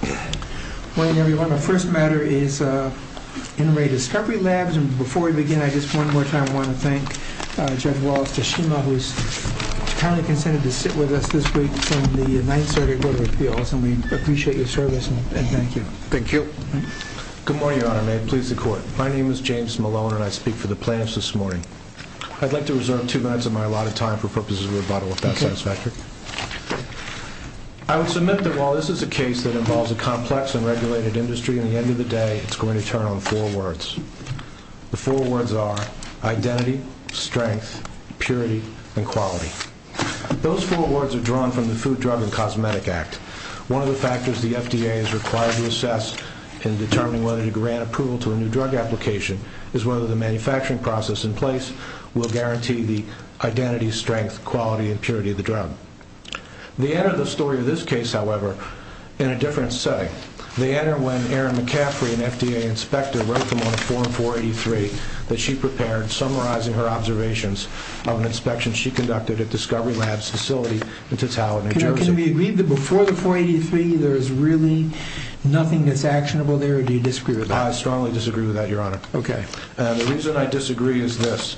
Good morning everyone, our first matter is In Re Discovery Labs, and before we begin I just one more time want to thank Judge Wallace Tashima, who's kindly consented to sit with us this week from the 9th Circuit Court of Appeals, and we appreciate your service and thank you. Thank you. Good morning, Your Honor, and may it please the Court. My name is James Malone and I speak for the plaintiffs this morning. I'd like to reserve two minutes of my allotted time for purposes of rebuttal, if that's satisfactory. I would submit that while this is a case that involves a complex and regulated industry, at the end of the day it's going to turn on four words. The four words are identity, strength, purity, and quality. Those four words are drawn from the Food, Drug, and Cosmetic Act. One of the factors the FDA is required to assess in determining whether to grant approval to a new drug application is whether the manufacturing process in place will guarantee the identity, strength, quality, and purity of the drug. The end of the story of this case, however, in a different setting. The end of when Erin McCaffrey, an FDA inspector, wrote them on a form 483 that she prepared summarizing her observations of an inspection she conducted at Discovery Labs facility in Totaliton, New Jersey. Can we agree that before the 483 there's really nothing that's actionable there, or do you disagree with that? I strongly disagree with that, Your Honor. Okay. And the reason I disagree is this.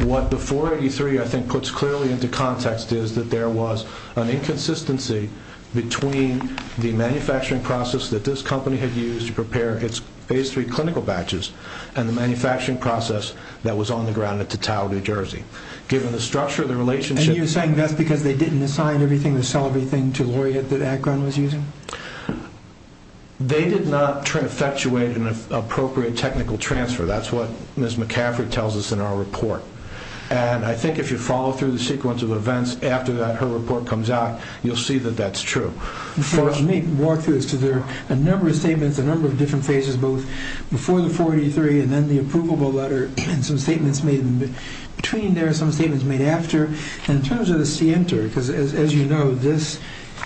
What the 483, I think, puts clearly into context is that there was an inconsistency between the manufacturing process that this company had used to prepare its phase three clinical batches and the manufacturing process that was on the ground at Totaliton, New Jersey. Given the structure of the relationship- And you're saying that's because they didn't assign everything to sell everything to Laureate that Akron was using? They did not effectuate an appropriate technical transfer. That's what Ms. McCaffrey tells us in our report. And I think if you follow through the sequence of events after that, her report comes out, you'll see that that's true. Before I walk through this, because there are a number of statements, a number of different phases, both before the 483 and then the approvable letter, and some statements made between there and some statements made after. And in terms of the scienter, because as you know, this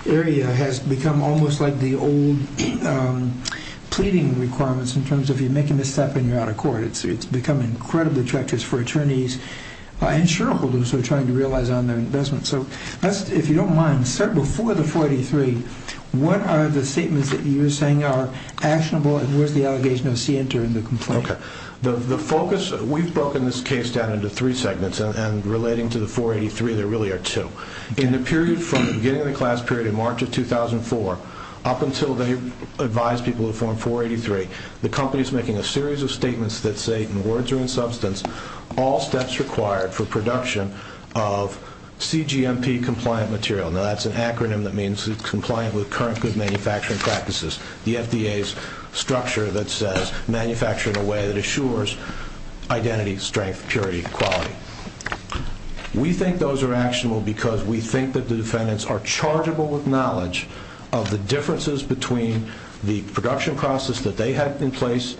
area has become almost like the old pleading requirements in terms of, you make a misstep and you're out of court. It's become incredibly treacherous for attorneys and shareholders who are trying to realize on their investment. So if you don't mind, sir, before the 483, what are the statements that you're saying are actionable and where's the allegation of scienter in the complaint? The focus, we've broken this case down into three segments and relating to the 483, there really are two. In the period from the beginning of the class period in March of 2004, up until they advised people to form 483, the company is making a series of statements that say, in words or in substance, all steps required for production of CGMP compliant material. Now that's an acronym that means compliant with current good manufacturing practices. The FDA's structure that says, manufacture in a way that assures identity, strength, purity, quality. We think those are actionable because we think that the defendants are chargeable with knowledge of the differences between the production process that they had in place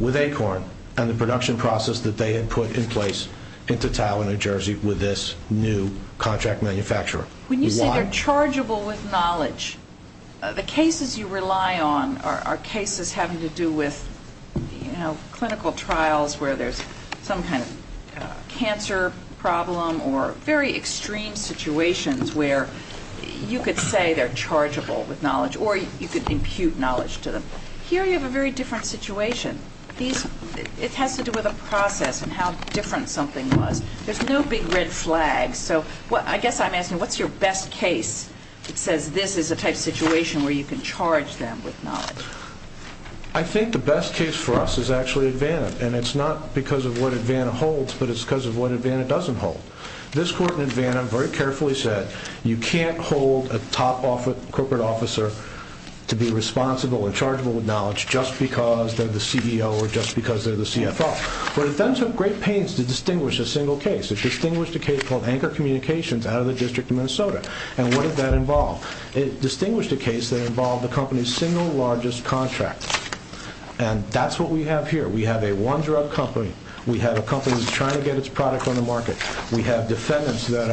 with ACORN and the production process that they had put in place into TOW in New Jersey with this new contract manufacturer. When you say they're chargeable with knowledge, the cases you rely on are cases having to do with a cancer problem or very extreme situations where you could say they're chargeable with knowledge or you could impute knowledge to them. Here you have a very different situation. It has to do with a process and how different something was. There's no big red flags. I guess I'm asking, what's your best case that says this is the type of situation where you can charge them with knowledge? I think the best case for us is actually ADVANA and it's not because of what ADVANA holds but it's because of what ADVANA doesn't hold. This court in ADVANA very carefully said you can't hold a top corporate officer to be responsible and chargeable with knowledge just because they're the CEO or just because they're the CFO. But it then took great pains to distinguish a single case. It distinguished a case called Anchor Communications out of the District of Minnesota. And what did that involve? It distinguished a case that involved the company's single largest contractor. And that's what we have here. We have a one drug company. We have a company that's trying to get its product on the market. We have defendants that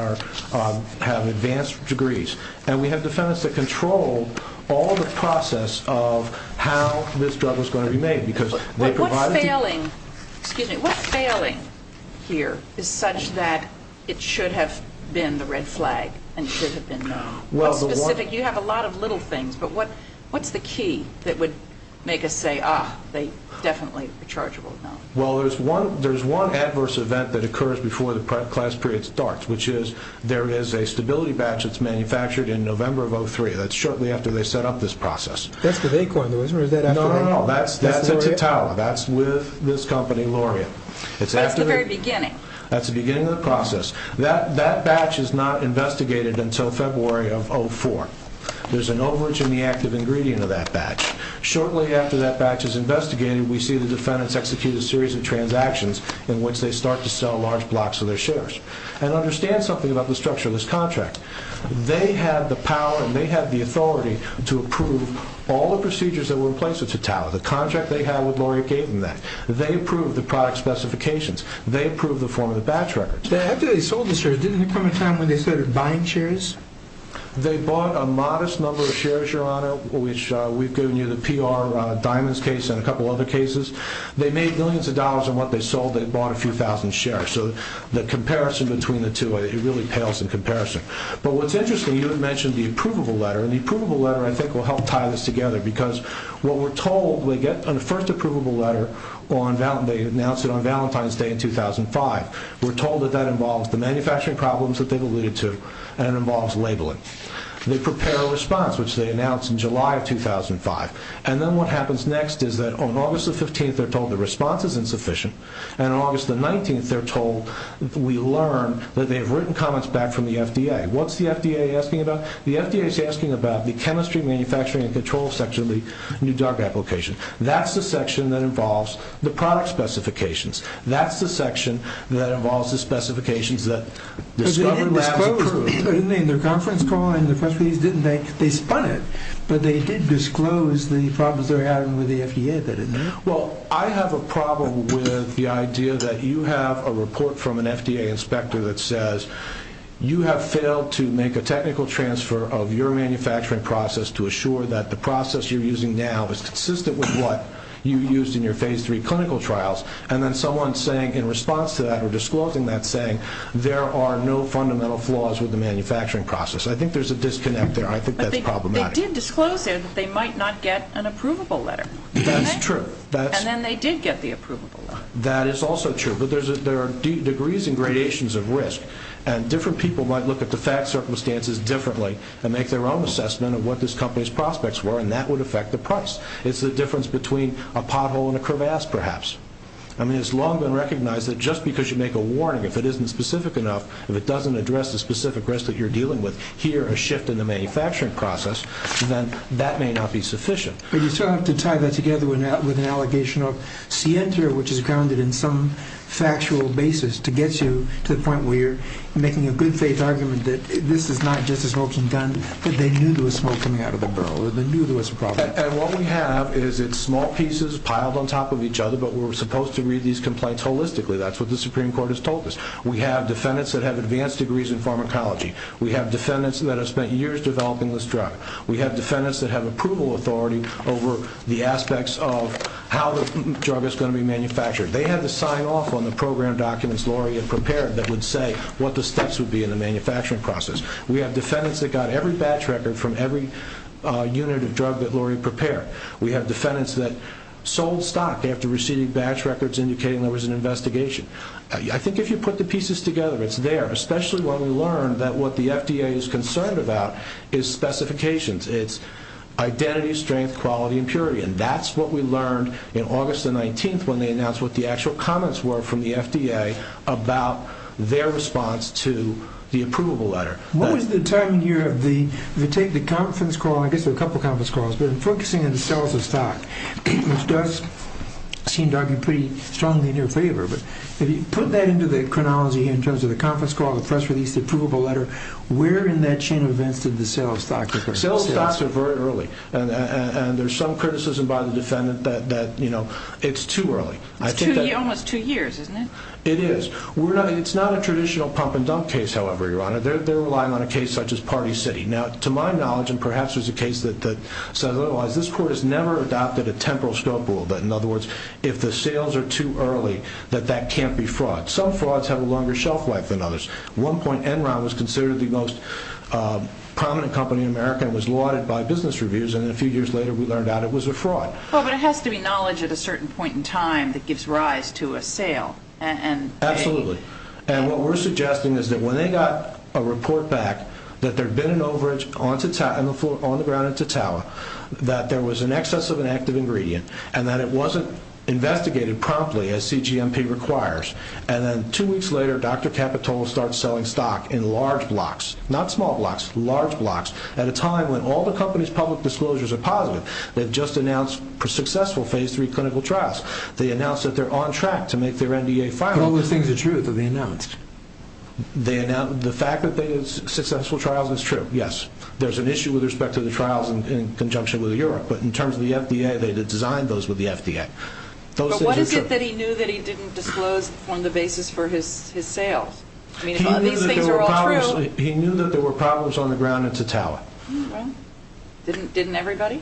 have advanced degrees. And we have defendants that control all the process of how this drug is going to be made. But what's failing here is such that it should have been the red flag and it should have been known? What's specific? You have a lot of little things but what's the key that would make us say, ah, they definitely are chargeable with knowledge? Well, there's one adverse event that occurs before the class period starts, which is there is a stability batch that's manufactured in November of 03. That's shortly after they set up this process. That's with Acorn, though, isn't it? Or is that after Acorn? No, no, no. That's at Tatawa. That's with this company, Lauria. That's the very beginning. That's the beginning of the process. That batch is not investigated until February of 04. There's an overage in the active ingredient of that batch. Shortly after that batch is investigated, we see the defendants execute a series of transactions in which they start to sell large blocks of their shares. And understand something about the structure of this contract. They had the power and they had the authority to approve all the procedures that were in place with Tatawa. The contract they had with Lauria gave them that. They approved the product specifications. They approved the form of the batch records. After they sold the shares, didn't there come a time when they started buying shares? They bought a modest number of shares, Your Honor, which we've given you the PR Diamonds case and a couple other cases. They made millions of dollars in what they sold. They bought a few thousand shares. So the comparison between the two, it really pales in comparison. But what's interesting, you had mentioned the approvable letter. And the approvable letter, I think, will help tie this together. Because what we're told, we get on the first approvable letter, they announced it on Valentine's Day in 2005. We're told that that involves the manufacturing problems that they've alluded to and it involves labeling. They prepare a response, which they announced in July of 2005. And then what happens next is that on August the 15th, they're told the response is insufficient. And on August the 19th, they're told, we learn that they have written comments back from the FDA. What's the FDA asking about? The FDA is asking about the chemistry, manufacturing, and control section of the New Drug application. That's the section that involves the product specifications. That's the section that involves the specifications that discovered that was approved. But they didn't disclose, didn't they, in their conference call, in their press release, didn't they? They spun it. But they did disclose the problems they're having with the FDA, didn't they? Well, I have a problem with the idea that you have a report from an FDA inspector that says you have failed to make a technical transfer of your manufacturing process to assure that the process you're using now is consistent with what you used in your phase three clinical trials. And then someone saying, in response to that, or disclosing that, saying there are no fundamental flaws with the manufacturing process. I think there's a disconnect there. I think that's problematic. But they did disclose there that they might not get an approvable letter, didn't they? That's true. And then they did get the approvable letter. That is also true. But there are degrees and gradations of risk. And different people might look at the fact circumstances differently and make their own assessment of what this company's prospects were, and that would affect the price. It's the difference between a pothole and a crevasse, perhaps. I mean, it's long been recognized that just because you make a warning, if it isn't specific enough, if it doesn't address the specific risk that you're dealing with, here, a shift in the manufacturing process, then that may not be sufficient. But you still have to tie that together with an allegation of scienter, which is grounded in some factual basis, to get you to the point where you're making a good faith argument that this is not just a smoking gun, but they knew there was smoke coming out of the barrel, or they knew there was a problem. And what we have is it's small pieces piled on top of each other, but we're supposed to read these complaints holistically. That's what the Supreme Court has told us. We have defendants that have advanced degrees in pharmacology. We have defendants that have spent years developing this drug. We have defendants that have approval authority over the aspects of how the drug is going to be manufactured. They had to sign off on the program documents Lori had prepared that would say what the steps would be in the manufacturing process. We have defendants that got every batch record from every unit of drug that Lori prepared. We have defendants that sold stock after receiving batch records indicating there was an investigation. I think if you put the pieces together, it's there, especially when we learn that what the FDA is concerned about is specifications. It's identity, strength, quality, and purity. And that's what we learned in August the 19th when they announced what the actual comments were from the FDA about their response to the approvable letter. What was the timing here of the, if you take the conference call, I guess there were a couple conference calls, but focusing on the sales of stock, which does seem to argue pretty strongly in your favor, but if you put that into the chronology in terms of the conference call, the press release, the approvable letter, where in that chain of events did the sales of stock occur? Sales of stock occur very early. And there's some criticism by the defendant that it's too early. It's almost two years, isn't it? It is. It's not a traditional pump and dump case, however, Your Honor. They're relying on a case such as Party City. Now, to my knowledge, and perhaps there's a case that says otherwise, this court has never adopted a temporal scope rule, that in other words, if the sales are too early, that that can't be fraud. Some frauds have a longer shelf life than others. One point, Enron was considered the most prominent company in America and was lauded by business reviews and then a few years later we learned out it was a fraud. Well, but it has to be knowledge at a certain point in time that gives rise to a sale. Absolutely. And what we're suggesting is that when they got a report back that there'd been an overage on the floor on the ground at Tatawa, that there was an excess of an active ingredient and that it wasn't investigated promptly as CGMP requires. And then two weeks later, Dr. Capitola starts selling stock in large blocks. Not small blocks, large blocks, at a time when all the company's public disclosures are positive. They've just announced successful phase three clinical trials. They announced that they're on track to make their NDA final. But all the things are true that they announced. The fact that they did successful trials is true, yes. There's an issue with respect to the trials in conjunction with Europe, but in terms of the FDA, they designed those with the FDA. But what is it that he knew that he didn't disclose on the basis for his sales? I mean, if all these things are all true- He knew that there were problems on the ground at Tatawa. Didn't everybody?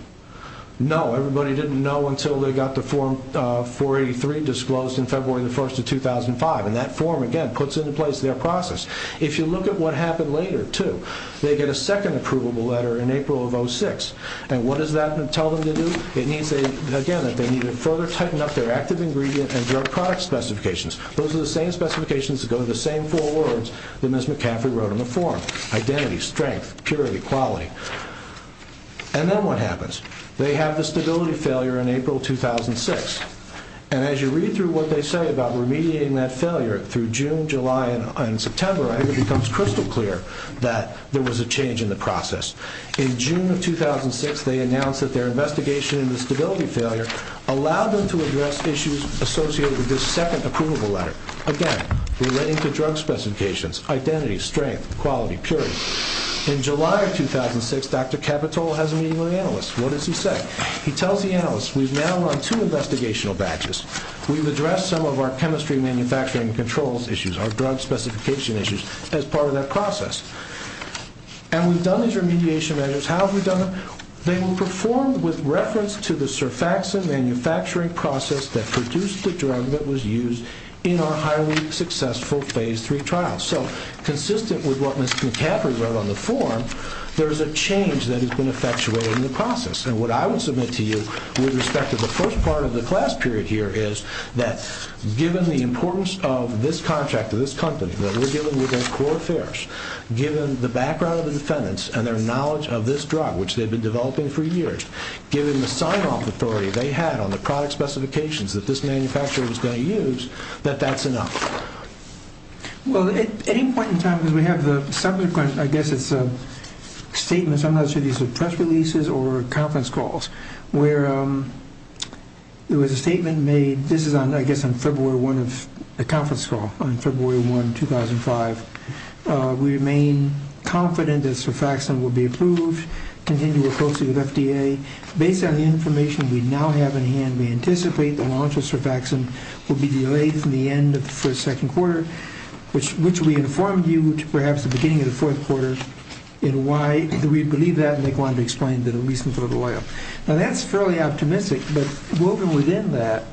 No. Everybody didn't know until they got the form 483 disclosed in February the 1st of 2005. And that form, again, puts into place their process. If you look at what happened later, too, they get a second approvable letter in April of 06. And what does that tell them to do? It means, again, that they need to further tighten up their active ingredient and drug product specifications. Those are the same specifications that go to the same four words that Ms. McCaffrey wrote on the form, identity, strength, purity, quality. And then what happens? They have the stability failure in April 2006. And as you read through what they say about remediating that failure through June, July, and September, I think it becomes crystal clear that there was a change in the process. In June of 2006, they announced that their investigation into stability failure allowed them to address issues associated with this second approval letter. Again, relating to drug specifications, identity, strength, quality, purity. In July of 2006, Dr. Capitol has a meeting with analysts. What does he say? He tells the analysts, we've now run two investigational batches. We've addressed some of our chemistry manufacturing controls issues, our drug specification issues, as part of that process. And we've done these remediation measures. How have we done them? They were performed with reference to the surfaxin manufacturing process that produced the drug that was used in our highly successful phase three trial. So consistent with what Ms. McCaffrey wrote on the form, there is a change that has been effectuated in the process. And what I would submit to you with respect to the first part of the class period here is that given the importance of this contract to this company, that we're dealing with their core affairs, given the background of the defendants and their knowledge of this drug, which they've been developing for years, given the sign-off authority they had on the product specifications that this manufacturer was going to use, that that's enough. Well, at any point in time, because we have the subsequent, I guess it's a statement, some of these are press releases or conference calls, where there was a statement made, this is on, I guess, on February 1 of the conference call, on February 1, 2005. We remain confident that surfaxin will be approved, continue to work closely with FDA. Based on the information we now have in hand, we anticipate the launch of surfaxin will be delayed from the end of the first, second quarter, which we informed you to perhaps the beginning of the fourth quarter, and why we believe that, and they wanted to explain the reason for the delay. Now, that's fairly optimistic, but woven within that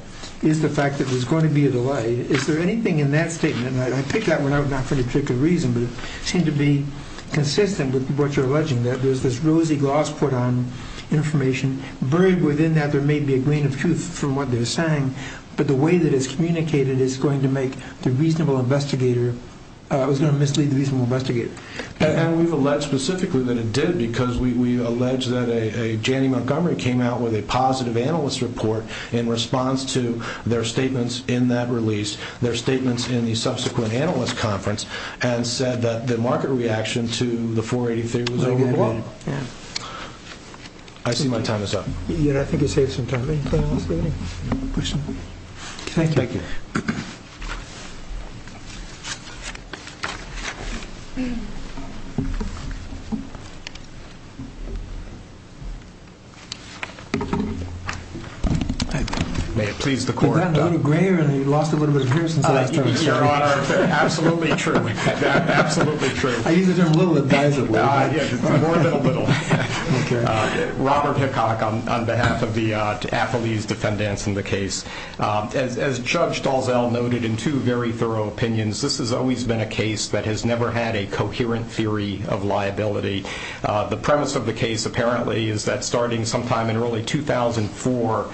is the fact that there's going to be a delay. Is there anything in that statement, and I picked that one out not for any particular reason, but it seemed to be consistent with what you're alleging, that there's this rosy gloss put on information, buried within that, there may be a grain of truth from what they're saying, but the way that it's communicated is going to make the reasonable investigator, it was going to mislead the reasonable investigator. And we've alleged specifically that it did, because we allege that a Jannie Montgomery came out with a positive analyst report in response to their statements in that release, their statements in the subsequent analyst conference, and said that the market reaction to the 483 was overblown. I see my time is up. Yeah, I think you saved some time. Any final thoughts, David? Thank you. Thank you. May it please the court. You've gotten a little grayer, and you've lost a little bit of hair since the last time we saw you. I'm a lawyer. I'm a lawyer. I'm a lawyer. I'm a lawyer. I'm a lawyer. I'm a lawyer. I'm a lawyer. You look a little admissible. Yeah, just a morbid little. Okay. Robert Hickock on behalf of the ATHLE's defendant in the case. As Judge Dalzell noted in two very thorough opinions, this has always been a case that has never had a coherent theory of liability. The premise of the case apparently is that starting sometime in early 2004,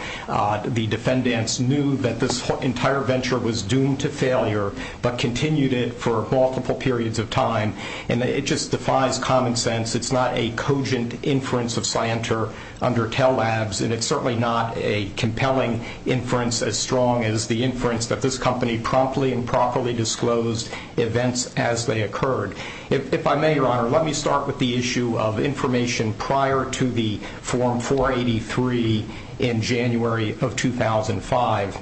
the defendants knew that this entire venture was doomed to failure, but continued it for multiple periods of time. And it just defies common sense. It's not a cogent inference of scienter under tell labs, and it's certainly not a compelling inference as strong as the inference that this company promptly and properly disclosed events as they occurred. If I may, Your Honor, let me start with the issue of information prior to the form 483 in January of 2005.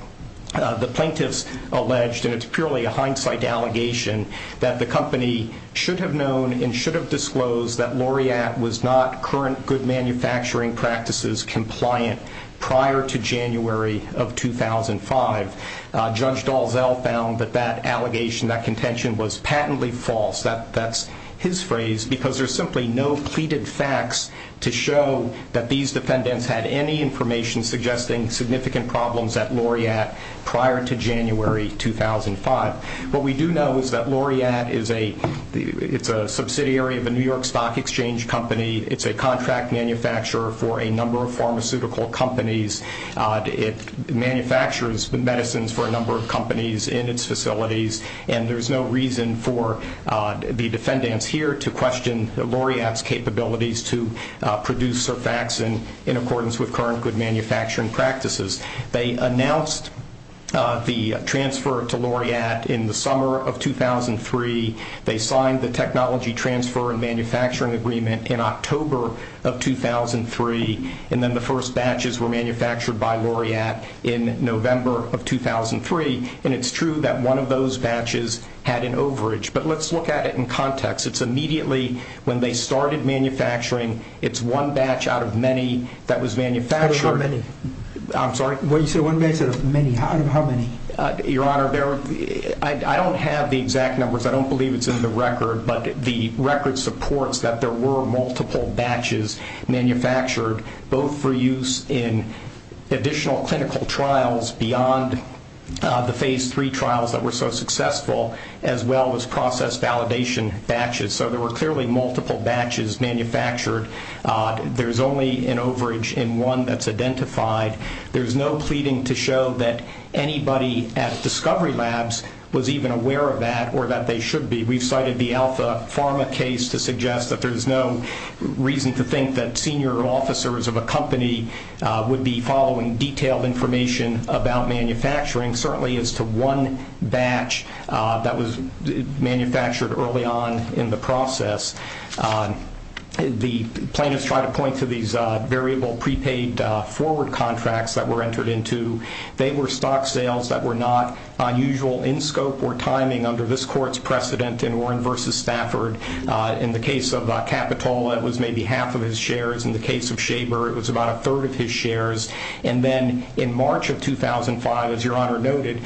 The plaintiffs alleged, and it's purely a hindsight allegation, that the company should have known and should have disclosed that Laureate was not current good manufacturing practices compliant prior to January of 2005. Judge Dalzell found that that allegation, that contention was patently false. That's his phrase, because there's simply no pleaded facts to show that these defendants had any information suggesting significant problems at Laureate prior to January 2005. What we do know is that Laureate is a, it's a subsidiary of the New York Stock Exchange Company. It's a contract manufacturer for a number of pharmaceutical companies. It manufactures medicines for a number of companies in its facilities. And there's no reason for the defendants here to question the Laureate's capabilities to produce Surfaxan in accordance with current good manufacturing practices. They announced the transfer to Laureate in the summer of 2003. They signed the technology transfer and manufacturing agreement in October of 2003. And then the first batches were manufactured by Laureate in November of 2003. And it's true that one of those batches had an overage. But let's look at it in context. It's immediately when they started manufacturing, it's one batch out of many that was manufactured. Out of how many? I'm sorry? What did you say? One batch out of many? Out of how many? Your Honor, I don't have the exact numbers. I don't believe it's in the record. But the record supports that there were multiple batches manufactured, both for use in additional clinical trials beyond the phase three trials that were so successful, as well as process validation batches. So there were clearly multiple batches manufactured. There's only an overage in one that's identified. There's no pleading to show that anybody at Discovery Labs was even aware of that or that they should be. We've cited the Alpha Pharma case to suggest that there's no reason to think that senior officers of a company would be following detailed information about manufacturing, certainly as to one batch that was manufactured early on in the process. The plaintiffs tried to point to these variable prepaid forward contracts that were entered into. They were stock sales that were not unusual in scope or timing under this court's precedent in Warren v. Stafford. In the case of Capitola, it was maybe half of his shares. In the case of Shaver, it was about a third of his shares. And then in March of 2005, as Your Honor noted,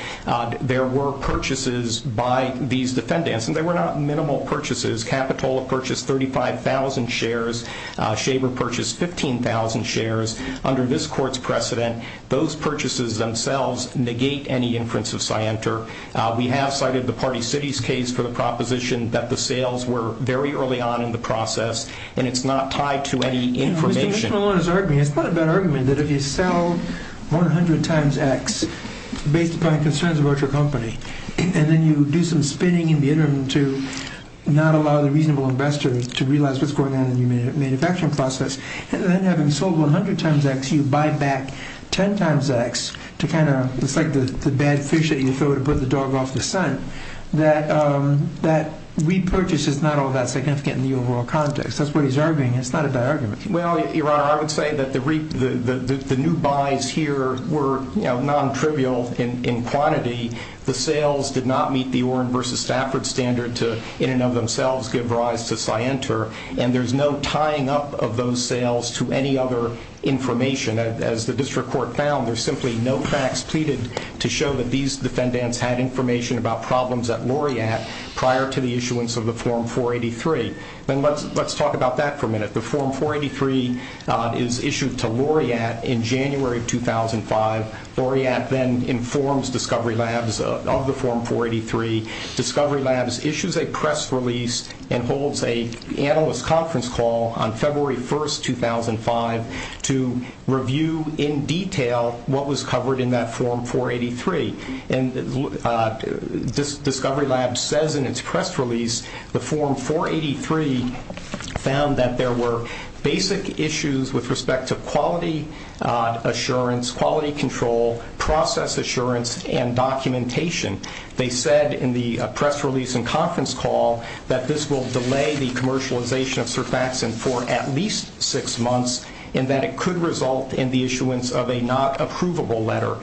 there were purchases by these defendants. And they were not minimal purchases. Capitola purchased 35,000 shares. Shaver purchased 15,000 shares. Under this court's precedent, those purchases themselves negate any inference of scienter. We have cited the Party Cities case for the proposition that the sales were very early on in the process, and it's not tied to any information. Mr. Mishel is arguing, it's not a bad argument, that if you sell 100 times X based upon concerns about your company, and then you do some spinning in the interim to not allow the reasonable investor to realize what's going on in the manufacturing process, and then having sold 100 times X, you buy back 10 times X to kind of, it's like the bad fish that you throw to put the dog off the sun, that repurchase is not all that significant in the overall context. That's what he's arguing. It's not a bad argument. Well, Your Honor, I would say that the new buys here were non-trivial in quantity. The sales did not meet the Oren versus Stafford standard to, in and of themselves, give rise to scienter. And there's no tying up of those sales to any other information. As the district court found, there's simply no facts pleaded to show that these defendants had information about problems at Laureate prior to the issuance of the Form 483. Then let's talk about that for a minute. The Form 483 is issued to Laureate in January of 2005. Laureate then informs Discovery Labs of the Form 483. Discovery Labs issues a press release and holds a analyst conference call on February 1st, 2005, to review in detail what was covered in that Form 483. And Discovery Labs says in its press release, the Form 483 found that there were basic issues with respect to quality assurance, quality control, process assurance, and documentation. They said in the press release and conference call that this will delay the commercialization of surfaxin for at least six months and that it could result in the issuance of a not-approvable letter.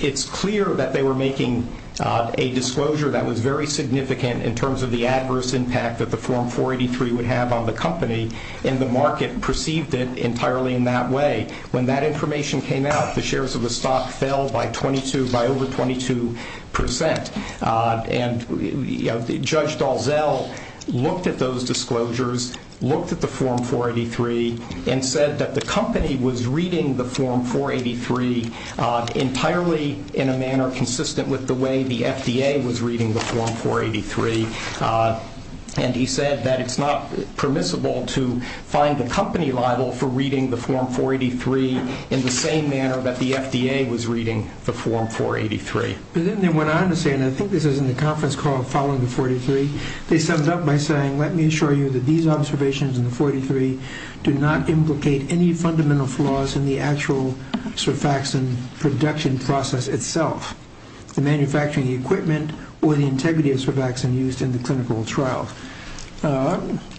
It's clear that they were making a disclosure that was very significant in terms of the adverse impact that the Form 483 would have on the company, and the market perceived it entirely in that way. When that information came out, the shares of the stock fell by over 22%. And Judge Dalzell looked at those disclosures, looked at the Form 483, and said that the entirely in a manner consistent with the way the FDA was reading the Form 483, and he said that it's not permissible to find the company liable for reading the Form 483 in the same manner that the FDA was reading the Form 483. But then they went on to say, and I think this is in the conference call following the 483, they summed up by saying, let me assure you that these observations in the 483 do not implicate any fundamental flaws in the actual surfaxin production process itself, the manufacturing equipment, or the integrity of surfaxin used in the clinical trial.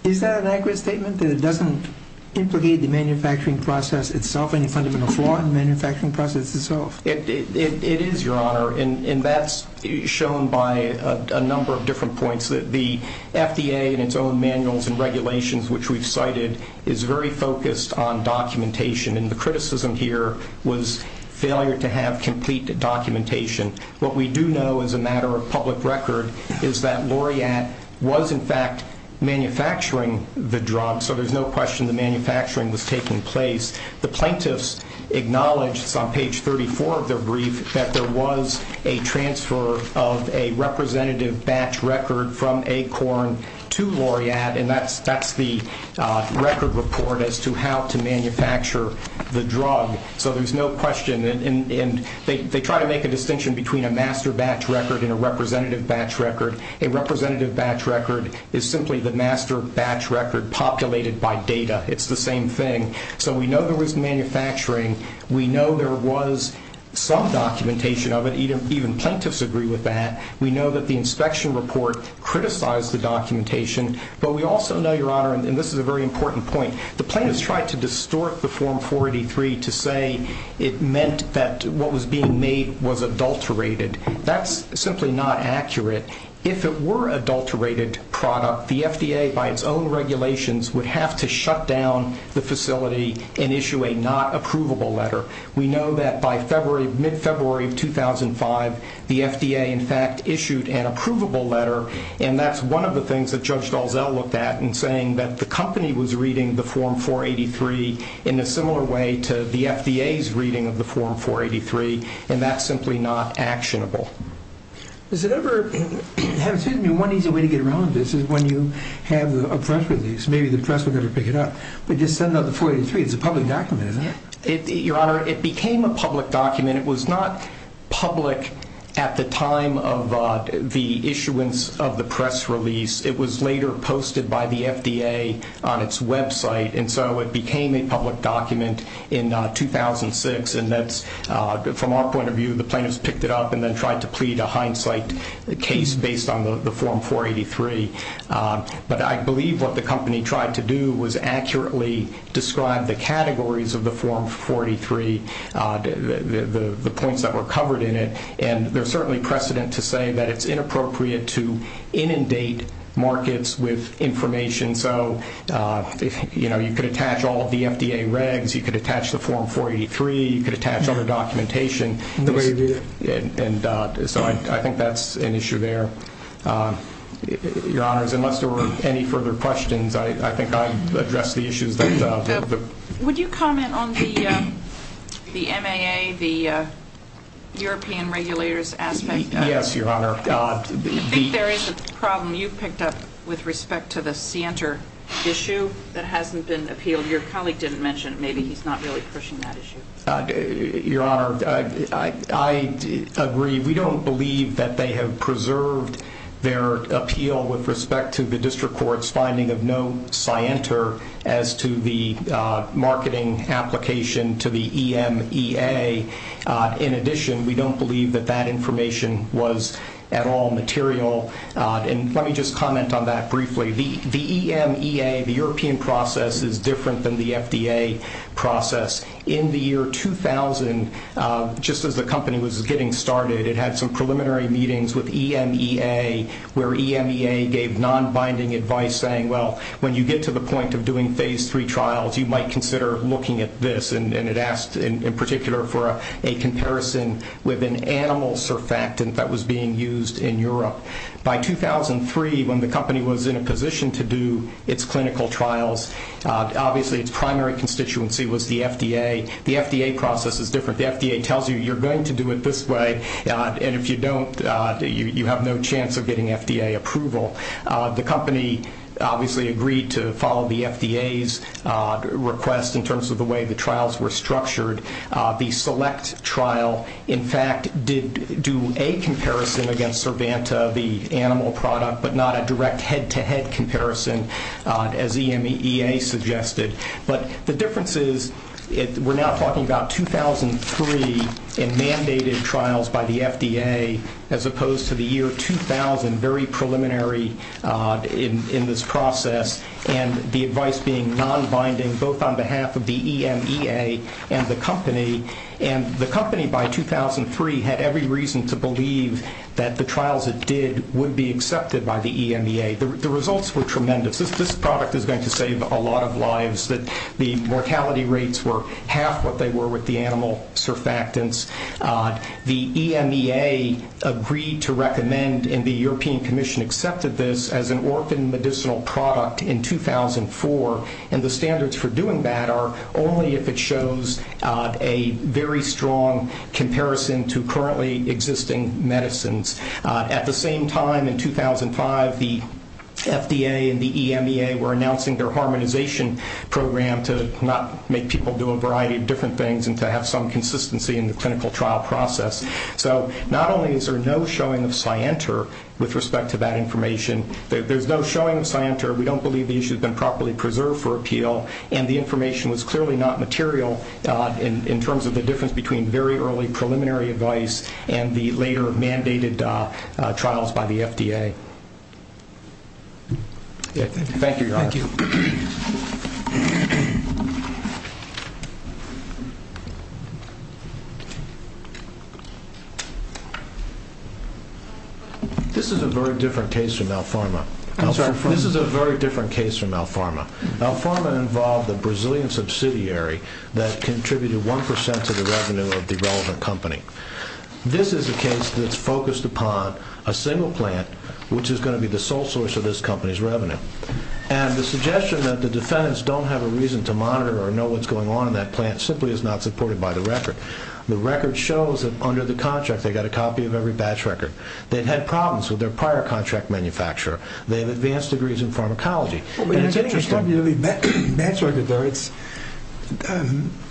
Is that an accurate statement, that it doesn't implicate the manufacturing process itself, any fundamental flaw in the manufacturing process itself? It is, Your Honor, and that's shown by a number of different points. The FDA in its own manuals and regulations, which we've cited, is very focused on documentation, and the criticism here was failure to have complete documentation. What we do know as a matter of public record is that Laureate was, in fact, manufacturing the drug, so there's no question the manufacturing was taking place. The plaintiffs acknowledged, it's on page 34 of their brief, that there was a transfer of a representative batch record from ACORN to Laureate, and that's the record report as to how to manufacture the drug, so there's no question, and they try to make a distinction between a master batch record and a representative batch record. A representative batch record is simply the master batch record populated by data. It's the same thing, so we know there was manufacturing. We know there was some documentation of it. Even plaintiffs agree with that. We know that the inspection report criticized the documentation, but we also know, Your Honor, and this is a very important point, the plaintiffs tried to distort the Form 483 to say it meant that what was being made was adulterated. That's simply not accurate. If it were an adulterated product, the FDA, by its own regulations, would have to shut down the facility and issue a not-approvable letter. We know that by mid-February of 2005, the FDA, in fact, issued an approvable letter, and that's one of the things that Judge Dalzell looked at in saying that the company was reading the Form 483 in a similar way to the FDA's reading of the Form 483, and that's simply not actionable. Excuse me, one easy way to get around this is when you have a press release, maybe the press will never pick it up, but just send out the 483. It's a public document, isn't it? Your Honor, it became a public document. It was not public at the time of the issuance of the press release. It was later posted by the FDA on its website, and so it became a public document in 2006, and that's, from our point of view, the plaintiffs picked it up and then tried to plead a hindsight case based on the Form 483. But I believe what the company tried to do was accurately describe the categories of the Form 483, the points that were covered in it, and there's certainly precedent to say that it's inappropriate to inundate markets with information. And so, you know, you could attach all of the FDA regs, you could attach the Form 483, you could attach other documentation, and so I think that's an issue there. Your Honor, unless there were any further questions, I think I addressed the issues that... Would you comment on the MAA, the European regulators aspect? Yes, Your Honor. I think there is a problem you picked up with respect to the Cienter issue that hasn't been appealed. Your colleague didn't mention it. Maybe he's not really pushing that issue. Your Honor, I agree. We don't believe that they have preserved their appeal with respect to the district court's finding of no Cienter as to the marketing application to the EMEA. In addition, we don't believe that that information was at all material. And let me just comment on that briefly. The EMEA, the European process, is different than the FDA process. In the year 2000, just as the company was getting started, it had some preliminary meetings with EMEA where EMEA gave non-binding advice saying, well, when you get to the point of doing phase three trials, you might consider looking at this. And it asked, in particular, for a comparison with an animal surfactant that was being used in Europe. By 2003, when the company was in a position to do its clinical trials, obviously its primary constituency was the FDA. The FDA process is different. The FDA tells you you're going to do it this way, and if you don't, you have no chance of getting FDA approval. The company obviously agreed to follow the FDA's request in terms of the way the trials were structured. The select trial, in fact, did do a comparison against Cervanta, the animal product, but not a direct head-to-head comparison, as EMEA suggested. But the difference is we're now talking about 2003 in mandated trials by the FDA, as opposed to the year 2000, very preliminary in this process, and the advice being non-binding, both on behalf of the EMEA and the company. And the company, by 2003, had every reason to believe that the trials it did would be accepted by the EMEA. The results were tremendous. This product is going to save a lot of lives. The mortality rates were half what they were with the animal surfactants. The EMEA agreed to recommend, and the European Commission accepted this as an orphan medicinal product in 2004, and the standards for doing that are only if it shows a very strong comparison to currently existing medicines. At the same time, in 2005, the FDA and the EMEA were announcing their harmonization program to not make people do a variety of different things and to have some consistency in the clinical trial process. So not only is there no showing of scienter with respect to that information, there's no showing of scienter. We don't believe the issue has been properly preserved for appeal, and the information was clearly not material in terms of the difference between very early preliminary advice and the later mandated trials by the FDA. Thank you, Your Honor. Thank you. This is a very different case from Alfarma. I'm sorry. This is a very different case from Alfarma. Alfarma involved a Brazilian subsidiary that contributed 1% to the revenue of the relevant company. This is a case that's focused upon a single plant, which is going to be the sole source of this company's revenue, and the suggestion that the defendants don't have a reason to monitor or know what's going on in that plant simply is not supported by the record. The record shows that under the contract, they got a copy of every batch record. They've had problems with their prior contract manufacturer. They have advanced degrees in pharmacology. Well, but it's interesting that you have a batch record there.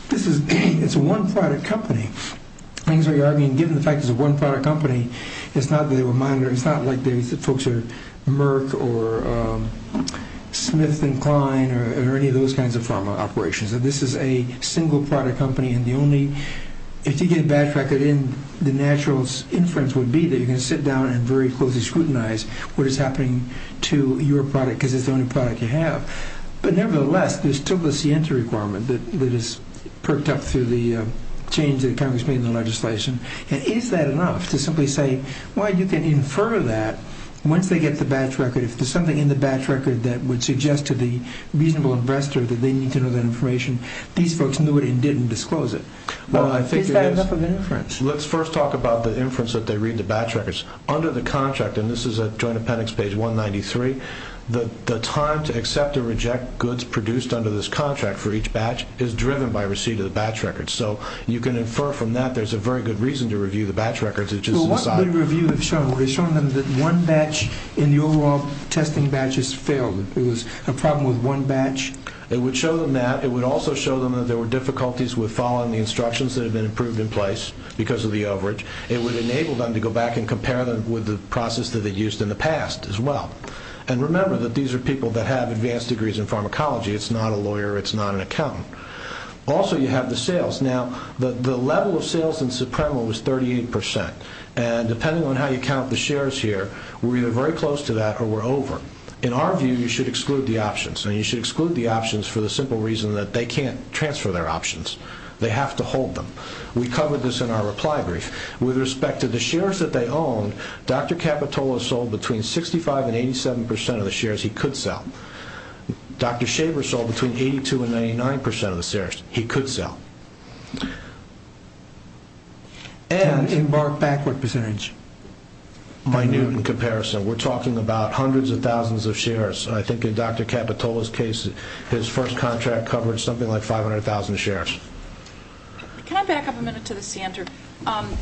This is a one-product company. I think you're arguing, given the fact it's a one-product company, it's not that they were monitored. It's not like the folks at Merck or Smith and Klein or any of those kinds of pharma operations. This is a single-product company, and if you get a batch record in, the natural inference would be that you're going to sit down and very closely scrutinize what is happening to your product, because it's the only product you have. But nevertheless, there's still this entry requirement that is perked up through the change that Congress made in the legislation, and is that enough to simply say, well, you can infer that once they get the batch record. If there's something in the batch record that would suggest to the reasonable investor that they need to know that information, these folks knew it and didn't disclose it. Is that enough of an inference? Let's first talk about the inference that they read the batch records. Under the contract, and this is at Joint Appendix page 193, the time to accept or reject goods produced under this contract for each batch is driven by receipt of the batch record. So you can infer from that there's a very good reason to review the batch records. It's just an aside. Well, what did the review have shown? Would it have shown them that one batch in the overall testing batches failed? It was a problem with one batch? It would show them that. It would also show them that there were difficulties with following the instructions that have been approved in place because of the overage. It would enable them to go back and compare them with the process that they used in the past as well. And remember that these are people that have advanced degrees in pharmacology. It's not a lawyer. It's not an accountant. Also, you have the sales. Now, the level of sales in Supremo was 38 percent, and depending on how you count the shares here, we're either very close to that or we're over. In our view, you should exclude the options. And you should exclude the options for the simple reason that they can't transfer their options. They have to hold them. We covered this in our reply brief. With respect to the shares that they own, Dr. Capitola sold between 65 and 87 percent of the shares he could sell. Dr. Schaber sold between 82 and 99 percent of the shares he could sell. And— Embark backward percentage. Minute in comparison. We're talking about hundreds of thousands of shares. I think in Dr. Capitola's case, his first contract covered something like 500,000 shares. Can I back up a minute to the center?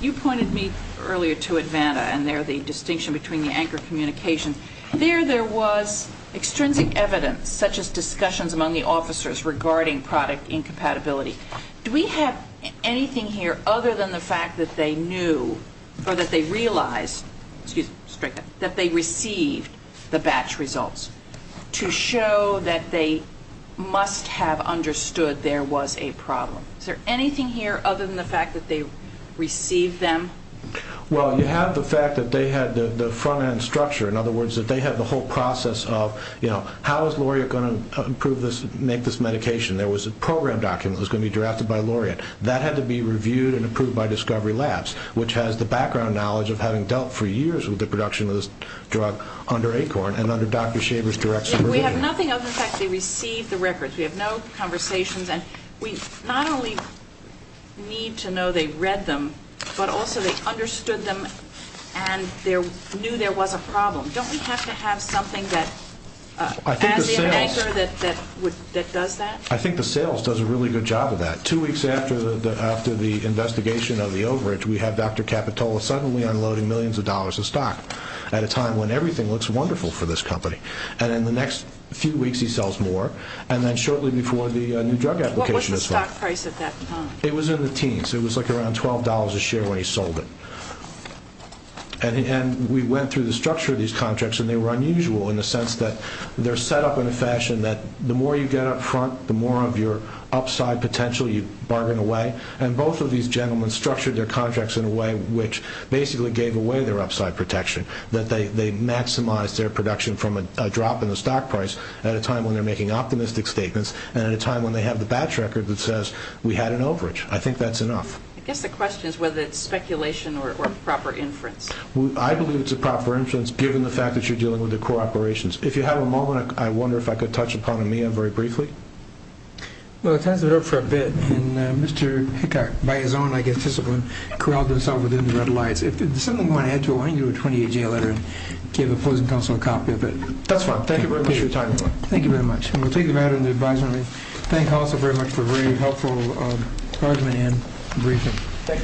You pointed me earlier to Advanta and there, the distinction between the anchor communications. There, there was extrinsic evidence, such as discussions among the officers regarding product incompatibility. Do we have anything here other than the fact that they knew or that they realized—excuse me, strike that—that they received the batch results? To show that they must have understood there was a problem. Is there anything here other than the fact that they received them? Well, you have the fact that they had the front-end structure. In other words, that they had the whole process of, you know, how is Laureate going to improve this, make this medication? There was a program document that was going to be drafted by Laureate. That had to be reviewed and approved by Discovery Labs, which has the background knowledge of having dealt for years with the production of this drug under Acorn and under Dr. Schaber's We have nothing other than the fact that they received the records. We have no conversations. And we not only need to know they read them, but also they understood them and knew there was a problem. Don't we have to have something that adds the anchor that does that? I think the sales does a really good job of that. Two weeks after the investigation of the overage, we had Dr. Capitola suddenly unloading millions of dollars of stock at a time when everything looks wonderful for this company. And in the next few weeks, he sells more. And then shortly before, the new drug application is filed. What was the stock price at that time? It was in the teens. It was like around $12 a share when he sold it. And we went through the structure of these contracts, and they were unusual in the sense that they're set up in a fashion that the more you get up front, the more of your upside potential you bargain away. And both of these gentlemen structured their contracts in a way which basically gave away their upside protection, that they maximized their production from a drop in the stock price at a time when they're making optimistic statements, and at a time when they have the batch record that says, we had an overage. I think that's enough. I guess the question is whether it's speculation or proper inference. I believe it's a proper inference, given the fact that you're dealing with the core operations. If you have a moment, I wonder if I could touch upon AMIA very briefly. Well, it has been up for a bit. And Mr. Hickok, by his own, I guess, discipline, corralled himself within the red lights. If there's something you want to add to it, why don't you do a 28-J letter and give opposing counsel a copy of it. That's fine. Thank you very much for your time. Thank you very much. And we'll take the matter into advisory. Thank you also very much for a very helpful argument and briefing.